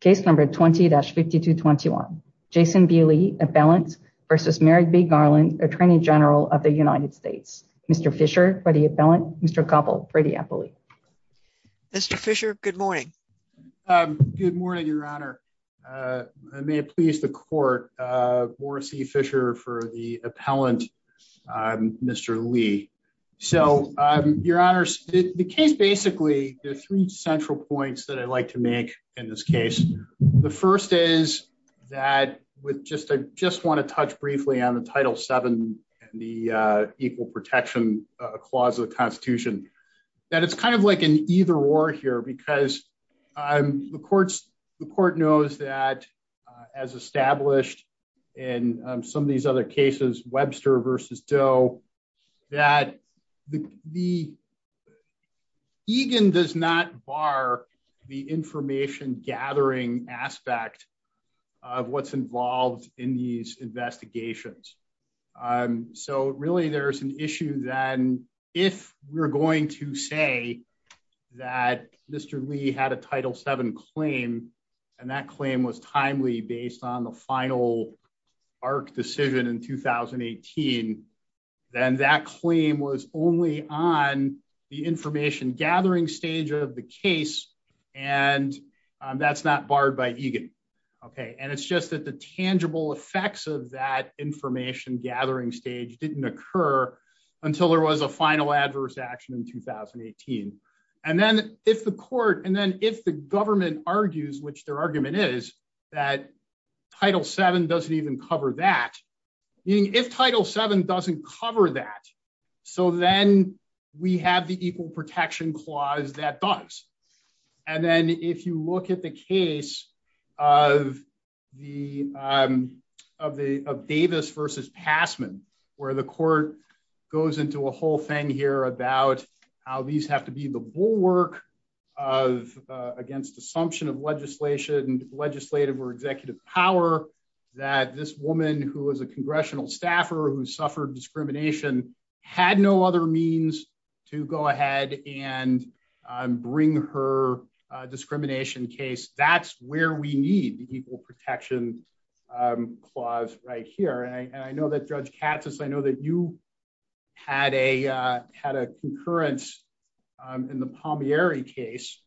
Case number 20-5221, Jason B. Lee, appellant versus Merrick B. Garland, attorney general of the United States. Mr. Fisher for the appellant, Mr. Cobble for the appellate. Mr. Fisher, good morning. Good morning, Your Honor. May it please the court, Morris E. Fisher for the appellant, Mr. Lee. So, Your Honor, the case basically, there are three central points that I'd like to make in this case. The first is that with just, I just want to touch briefly on the Title VII and the Equal Protection Clause of the Constitution, that it's kind of like an either-or here because the court knows that, as established in some of these other cases, Webster v. Doe, that the EGAN does not bar the information gathering aspect of what's involved in these investigations. So, really, there's an issue then if we're going to say that Mr. Lee had a Title VII claim and that claim was timely based on the final ARC decision in 2018, then that claim was only on the information gathering stage of the case and that's not barred by EGAN, okay? And it's just that the tangible effects of that information gathering stage didn't occur until there was a final adverse action in 2018. And then if the court, and then if the government argues, which their argument is, that Title VII doesn't even cover that, meaning if Title VII doesn't cover that, so then we have the Equal Protection Clause that does. And then if you look at the case of Davis v. Passman, where the court goes into a whole thing here about how these have to be the bulwark against assumption of legislative or executive power that this woman, who was a congressional staffer who suffered discrimination, had no other means to go ahead and bring her discrimination case, that's where we need the you had a concurrence in the Palmieri case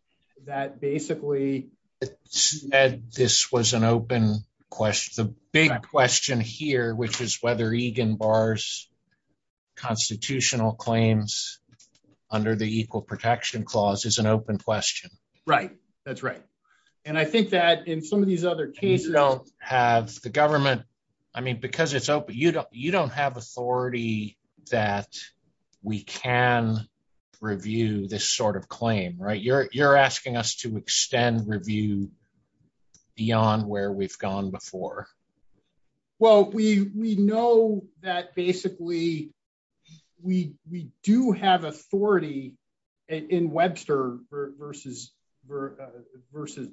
that basically said this was an open question. The big question here, which is whether EGAN bars constitutional claims under the Equal Protection Clause, is an open question. Right, that's right. And I think that in some of these other cases, the government, I mean, because it's open, you don't have authority that we can review this sort of claim, right? You're asking us to extend review beyond where we've gone before. Well, we know that basically we do have authority in Webster v.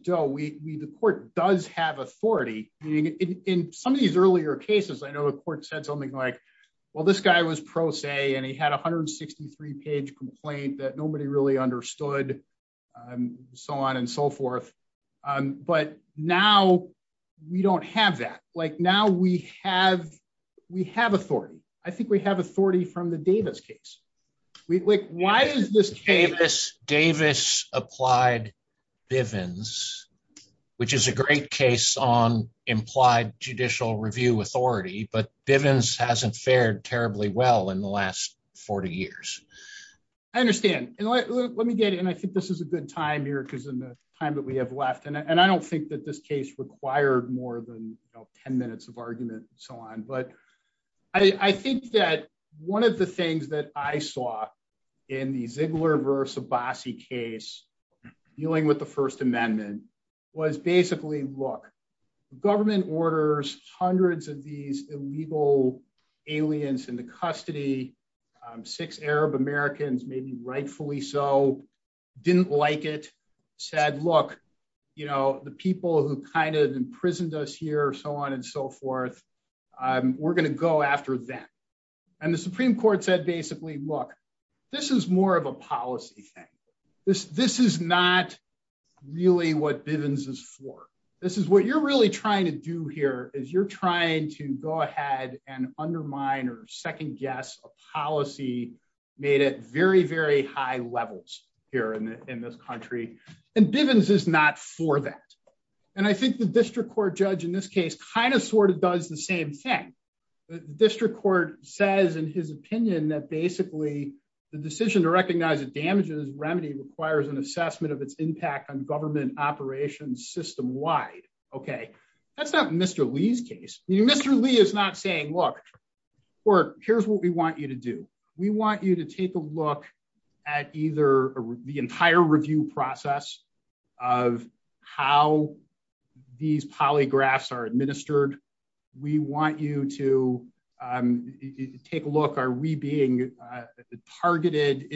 Doe. The court does have authority. In some of these earlier cases, I know the court said something like, well, this guy was pro se, and he had a 163-page complaint that nobody really understood, and so on and so forth. But now we don't have that. Now we have authority. I think we have authority from the Davis case. Why is this case? Davis applied Bivens, which is a great case on implied judicial review authority, but Bivens hasn't fared terribly well in the last 40 years. I understand. And let me get in. I think this is a good time here, because in the time that we have left, and I don't think that this case required more than 10 minutes of argument, but I think that one of the things that I saw in the Ziegler v. Abbasi case dealing with the First Amendment was basically, look, the government orders hundreds of these illegal aliens into custody. Six Arab Americans, maybe rightfully so, didn't like it, said, look, the people who kind of imprisoned us here, so on and so forth, we're going to go after them. And the Supreme Court said, basically, look, this is more of a policy thing. This is not really what Bivens is for. This is what you're really trying to do here, is you're trying to go ahead and undermine or second guess a policy made at very, very high levels here in this country. And Bivens is not for that. And I think the district court judge in this case kind of sort of does the same thing. The district court says, in his opinion, that basically, the decision to recognize the damages remedy requires an assessment of its impact on government operations system-wide. Okay, that's not Mr. Lee's case. Mr. Lee is not saying, look, here's what we want you to do. We want you to take a look at either the entire review process of how these polygraphs are administered. We want you to take a look, are we being targeted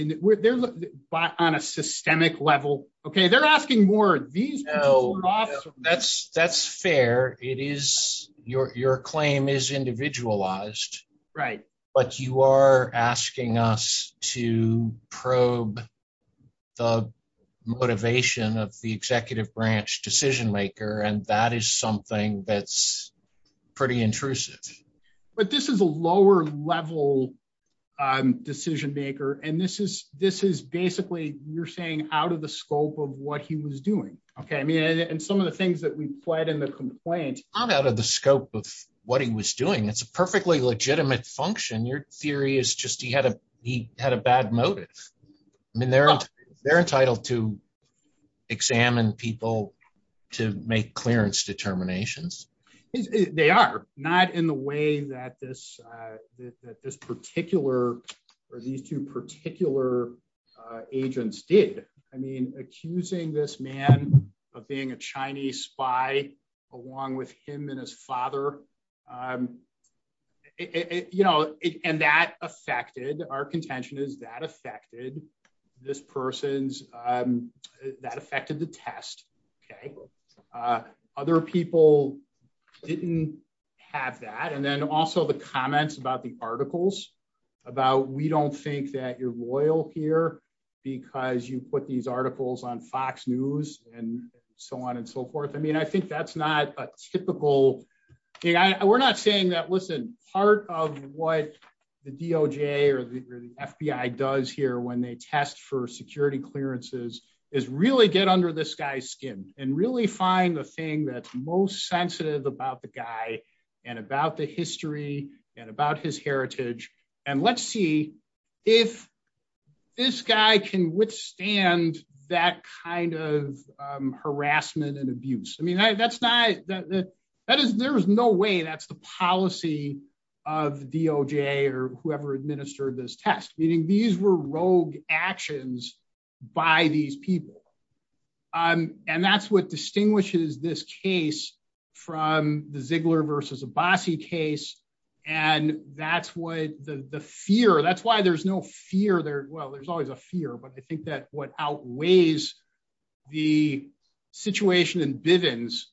on a systemic level? Okay, they're asking more. No, that's fair. Your claim is individualized. Right. But you are asking us to probe the motivation of the executive branch decision maker. And that is something that's pretty intrusive. But this is a lower level decision maker. And this is basically, you're saying out of the scope of what he was doing. Okay, I mean, and some of the things that we've played in the complaint. Not out of the scope of what he was doing. It's a perfectly legitimate function. Your theory is just he had a bad motive. I mean, they're entitled to examine people to make clearance determinations. They are. Not in the way that this particular, or these two particular agents did. I mean, accusing this man of being a Chinese spy, along with him and his father. And that affected our contention is that affected this person's that affected the test. Okay. Other people didn't have that. And then also the comments about the articles about we don't think that you're loyal here, because you put these articles on Fox News, and so on and so forth. I mean, I think that's not a typical thing. We're not saying that listen, part of what the DOJ or the FBI does here when they test for security clearances is really get under this guy's skin and really find the thing that's most sensitive about the guy, and about the history and about his heritage. And let's see if this guy can withstand that kind of harassment and abuse. I mean, that's not that is there is no way that's the policy of DOJ or whoever administered this test, meaning these were rogue actions by these people. And that's what distinguishes this case from the Ziegler versus Abbasi case. And that's what the fear that's why there's no fear there. Well, there's always a fear. But I think that what outweighs the situation in Bivens,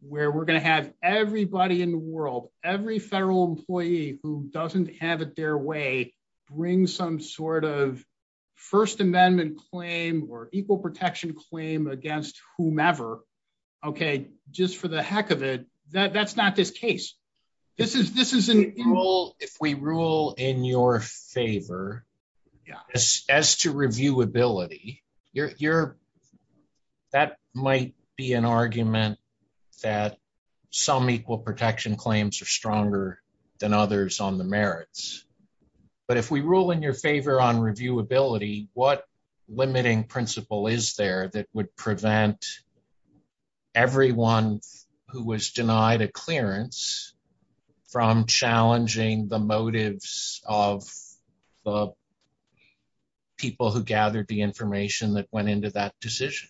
where we're going to have everybody in the world, every federal employee who doesn't have it their way, bring some sort of First Amendment claim or equal protection claim against whomever. Okay, just for the heck of it, that's not this case. This is this is an equal if we rule in your favor. Yeah, as to reviewability, you're that might be an argument that some equal protection claims are stronger than others on merits. But if we rule in your favor on reviewability, what limiting principle is there that would prevent everyone who was denied a clearance from challenging the motives of the people who gathered the information that went into that decision?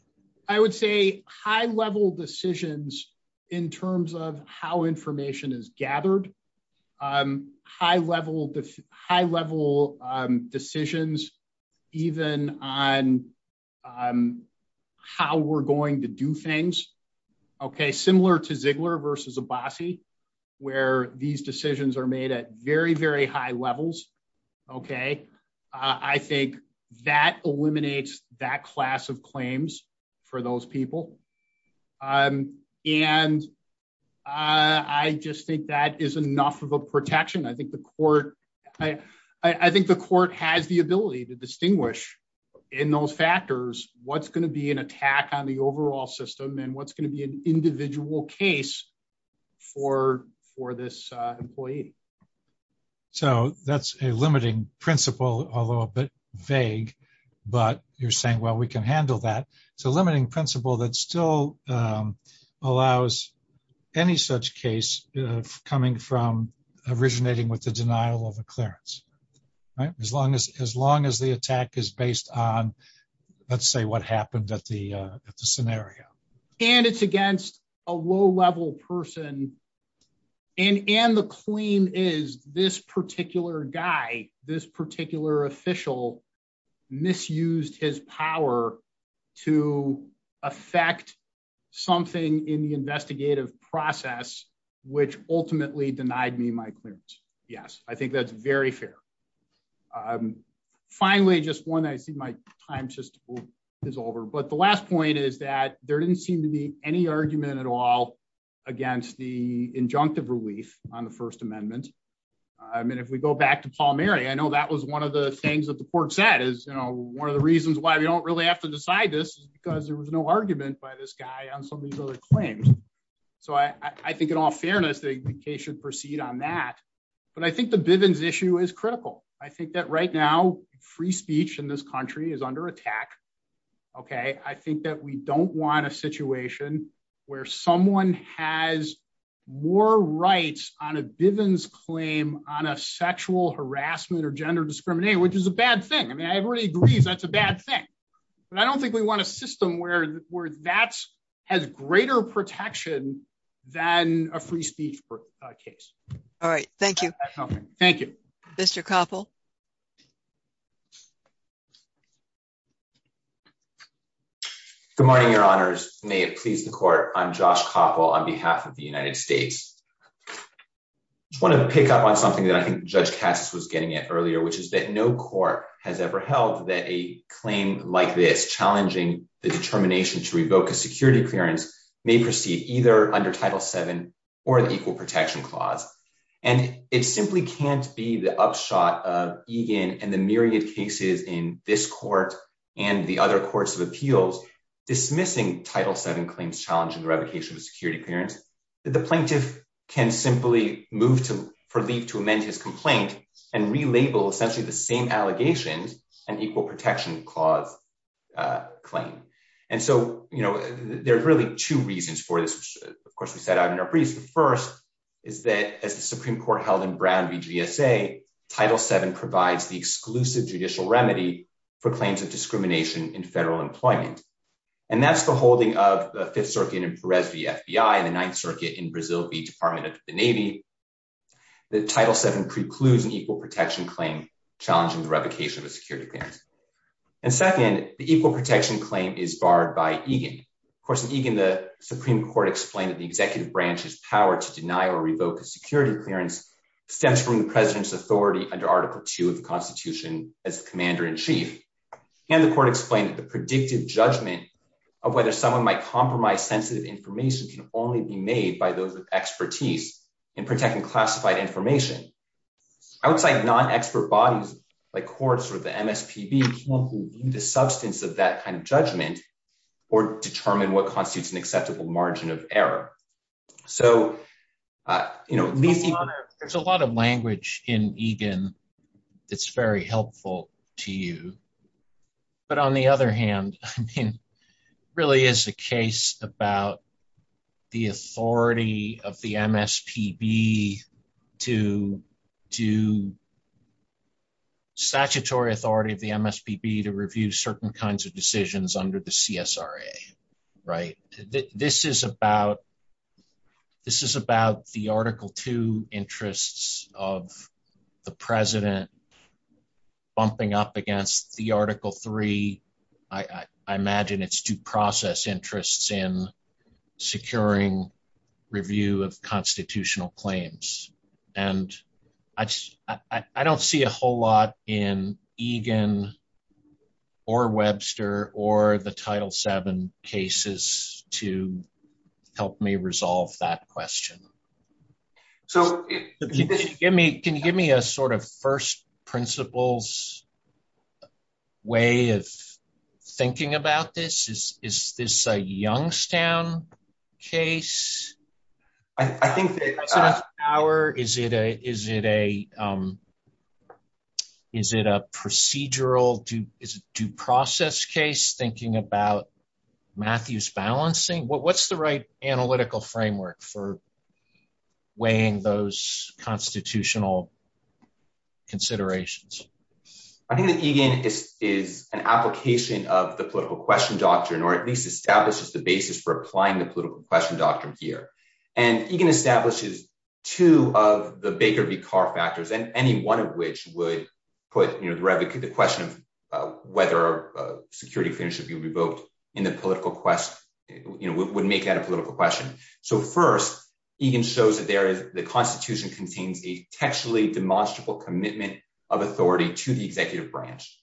I would say high level decisions in terms of how information is gathered, high level, high level decisions, even on how we're going to do things. Okay, similar to Ziegler versus Abbasi, where these decisions are made at very, very high levels. Okay. I think that eliminates that class of claims for those people. And I just think that is enough of a protection. I think the court, I think the court has the ability to distinguish in those factors, what's going to be an attack on the overall system, and what's going to be an individual case for for this employee. So that's a limiting principle, although a bit vague. But you're saying, well, we can handle that. So limiting principle that still allows any such case coming from originating with the denial of a clearance, right? As long as as long as the attack is based on, let's say what happened at the at the scenario, and it's against a low level person. And and the claim is this particular guy, this particular official misused his power to affect something in the investigative process, which ultimately denied me my clearance. Yes, I think that's very fair. I'm finally just one I see my time just is over. But the last point is that there didn't seem to be any argument at all, against the injunctive relief on the First Amendment. I mean, if we go back to Paul, Mary, I know that was one of the things that the court said is, you know, one of the reasons why we don't really have to decide this is because there was no argument by this guy on some of these other claims. So I think in all fairness, the case should proceed on that. But I think the Bivens issue is critical. I think that right now, free speech in this country is under attack. Okay, I think that we don't want a situation where someone has more rights on a Bivens claim on a sexual harassment or gender discrimination, which is a bad thing. I mean, everybody agrees that's a bad thing. But I don't think we want a system where where that's has greater protection than a free speech case. All right. Thank you. Thank you, Mr. Koppel. Good morning, Your Honors. May it please the court. I'm Josh Koppel on behalf of the United States. I want to pick up on something that I think Judge Cassis was getting at earlier, which is that no court has ever held that a claim like this challenging the determination to revoke security clearance may proceed either under Title VII or the Equal Protection Clause. And it simply can't be the upshot of Egan and the myriad cases in this court and the other courts of appeals dismissing Title VII claims challenging the revocation of security clearance that the plaintiff can simply move to for leave to amend his complaint and relabel essentially the same There are really two reasons for this. Of course, we set out in our briefs. The first is that as the Supreme Court held in Brown v. GSA, Title VII provides the exclusive judicial remedy for claims of discrimination in federal employment. And that's the holding of the Fifth Circuit in Perez v. FBI and the Ninth Circuit in Brazil v. Department of the Navy. The Title VII precludes an equal protection claim challenging the revocation of security clearance. And second, the equal protection claim is barred by Egan. Of course, in Egan, the Supreme Court explained that the executive branch's power to deny or revoke a security clearance stems from the president's authority under Article II of the Constitution as the commander-in-chief. And the court explained that the predictive judgment of whether someone might compromise sensitive information can only be made by those with expertise in protecting classified information. Outside non-expert bodies like courts or the MSPB can only be the substance of that kind of judgment or determine what constitutes an acceptable margin of error. So, you know, there's a lot of language in Egan that's very helpful to you. But on the other hand, I mean, it really is a case about the authority of the MSPB to do statutory authority of the MSPB to review certain kinds of decisions under the CSRA, right? This is about the Article II interests of the president bumping up against the Article III. I imagine it's due process interests in securing review of constitutional claims. And I don't see a whole lot in Egan or Webster or the Title VII cases to help me resolve that question. So, can you give me a sort of first principles way of thinking about this? Is this a Youngstown case? I think that- Is it a procedural due process case thinking about Matthew's balancing? What's the right analytical framework for weighing those constitutional considerations? I think that Egan is an application of the political question doctrine, or at least establishes the basis for applying the political question doctrine here. And Egan establishes two of the Baker v. Carr factors, and any one of which would put the question of whether a security finish should be revoked in the political quest, would make that a political question. So first, Egan shows that there is the constitution contains a textually demonstrable commitment of authority to the executive branch.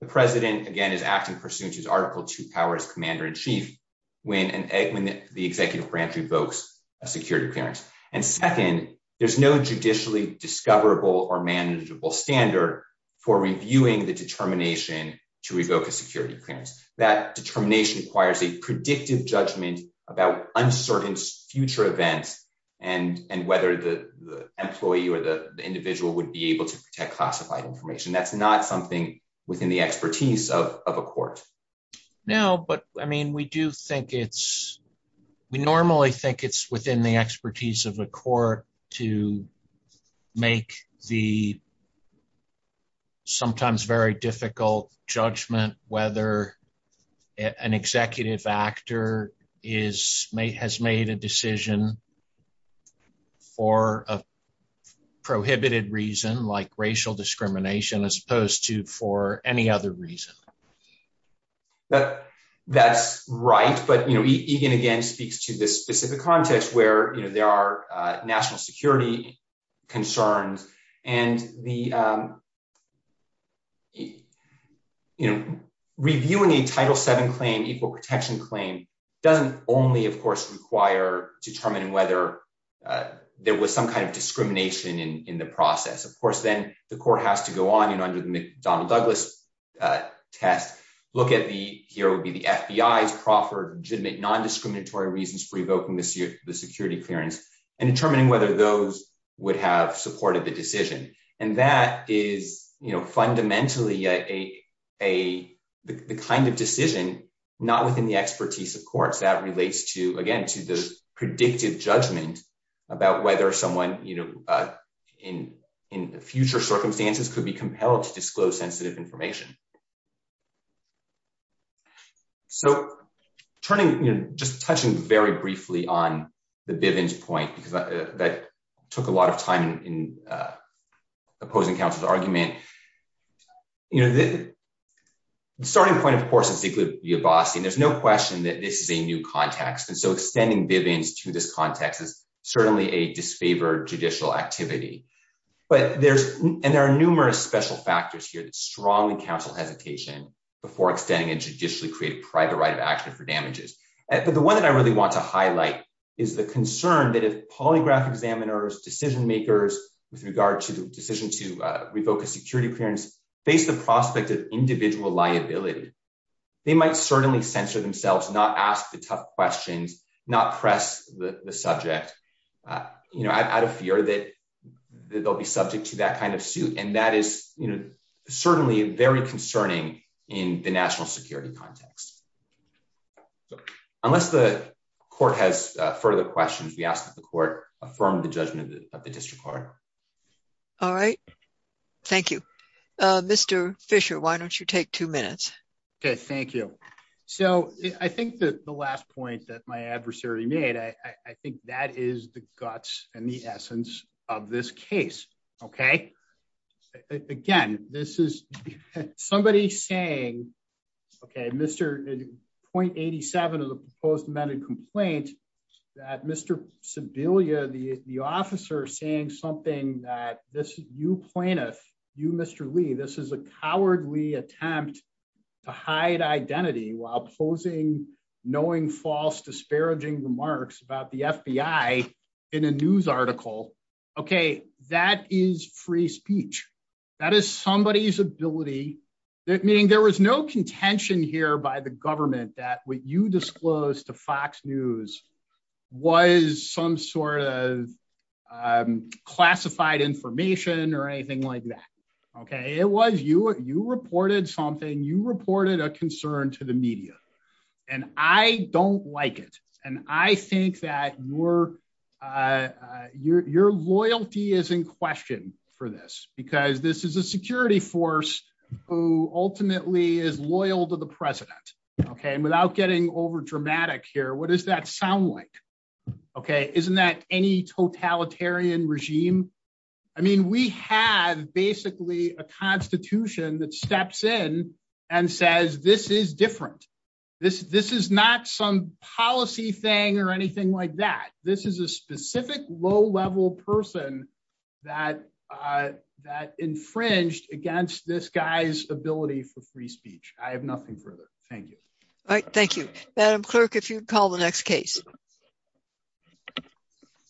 The president, again, is acting pursuant to his Article II powers, commander in chief, when the executive branch revokes a security clearance. And second, there's no judicially discoverable or manageable standard for reviewing the determination to revoke a security clearance. That determination requires a predictive judgment about uncertain future events, and whether the employee or the individual would be able to protect classified information. That's not something within the expertise of a court. Now, but I mean, we do think it's- we normally think it's within the expertise of the court to make the sometimes very difficult judgment whether an executive actor has made a decision for a prohibited reason, like racial discrimination, as opposed to for any other reason. But that's right. But, you know, Egan, again, speaks to this specific context where, you know, there are national security concerns. And the- you know, reviewing a Title VII claim, equal protection claim, doesn't only, of course, require determining whether there was some kind of discrimination in the process. Of course, then the court has to go on, you know, under the McDonnell-Douglas test, look at the- here would be the FBI's proffered legitimate non-discriminatory reasons for revoking the security clearance, and determining whether those would have supported the decision. And that is, you know, fundamentally a- a- the kind of decision not within the expertise of courts that relates to, again, to the predictive judgment about whether someone, you know, in- in future circumstances could be compelled to disclose just touching very briefly on the Bivens point, because that took a lot of time in opposing counsel's argument. You know, the starting point, of course, is equally a bossy, and there's no question that this is a new context. And so extending Bivens to this context is certainly a disfavored judicial activity. But there's- and there are numerous special factors here that strongly counsel hesitation before extending a judicially created private right action for damages. But the one that I really want to highlight is the concern that if polygraph examiners, decision makers, with regard to the decision to revoke a security clearance, face the prospect of individual liability, they might certainly censor themselves, not ask the tough questions, not press the- the subject, you know, out of fear that- that they'll be subject to that kind of suit. And that is, you know, certainly very concerning in the national security context. Unless the court has further questions, we ask that the court affirm the judgment of the district court. All right. Thank you. Mr. Fisher, why don't you take two minutes? Okay, thank you. So I think that the last point that my adversary made, I think that is the guts and the essence of this case. Okay. Again, this is somebody saying, okay, Mr. .87 of the proposed amended complaint, that Mr. Sebelia, the officer saying something that this you plaintiff, you Mr. Lee, this is a cowardly attempt to hide identity while posing, knowing false disparaging remarks about the FBI in a news article. Okay, that is free speech. That is somebody's ability. Meaning there was no contention here by the government that what you disclosed to Fox News was some sort of classified information or anything like that. Okay, it was you, you reported something, you reported a concern to the media. And I don't like it. And I think that your, your loyalty is in question for this, because this is a security force, who ultimately is loyal to the President. Okay, and without getting over dramatic here, what does that sound like? Okay, isn't that any totalitarian regime? I mean, we have basically a constitution that steps in and says, this is different. This, this is not some policy thing or anything like that. This is a specific low level person that, that infringed against this guy's ability for free speech. I have nothing further. Thank you. All right. Thank you. Madam Clerk, if you'd call the next case.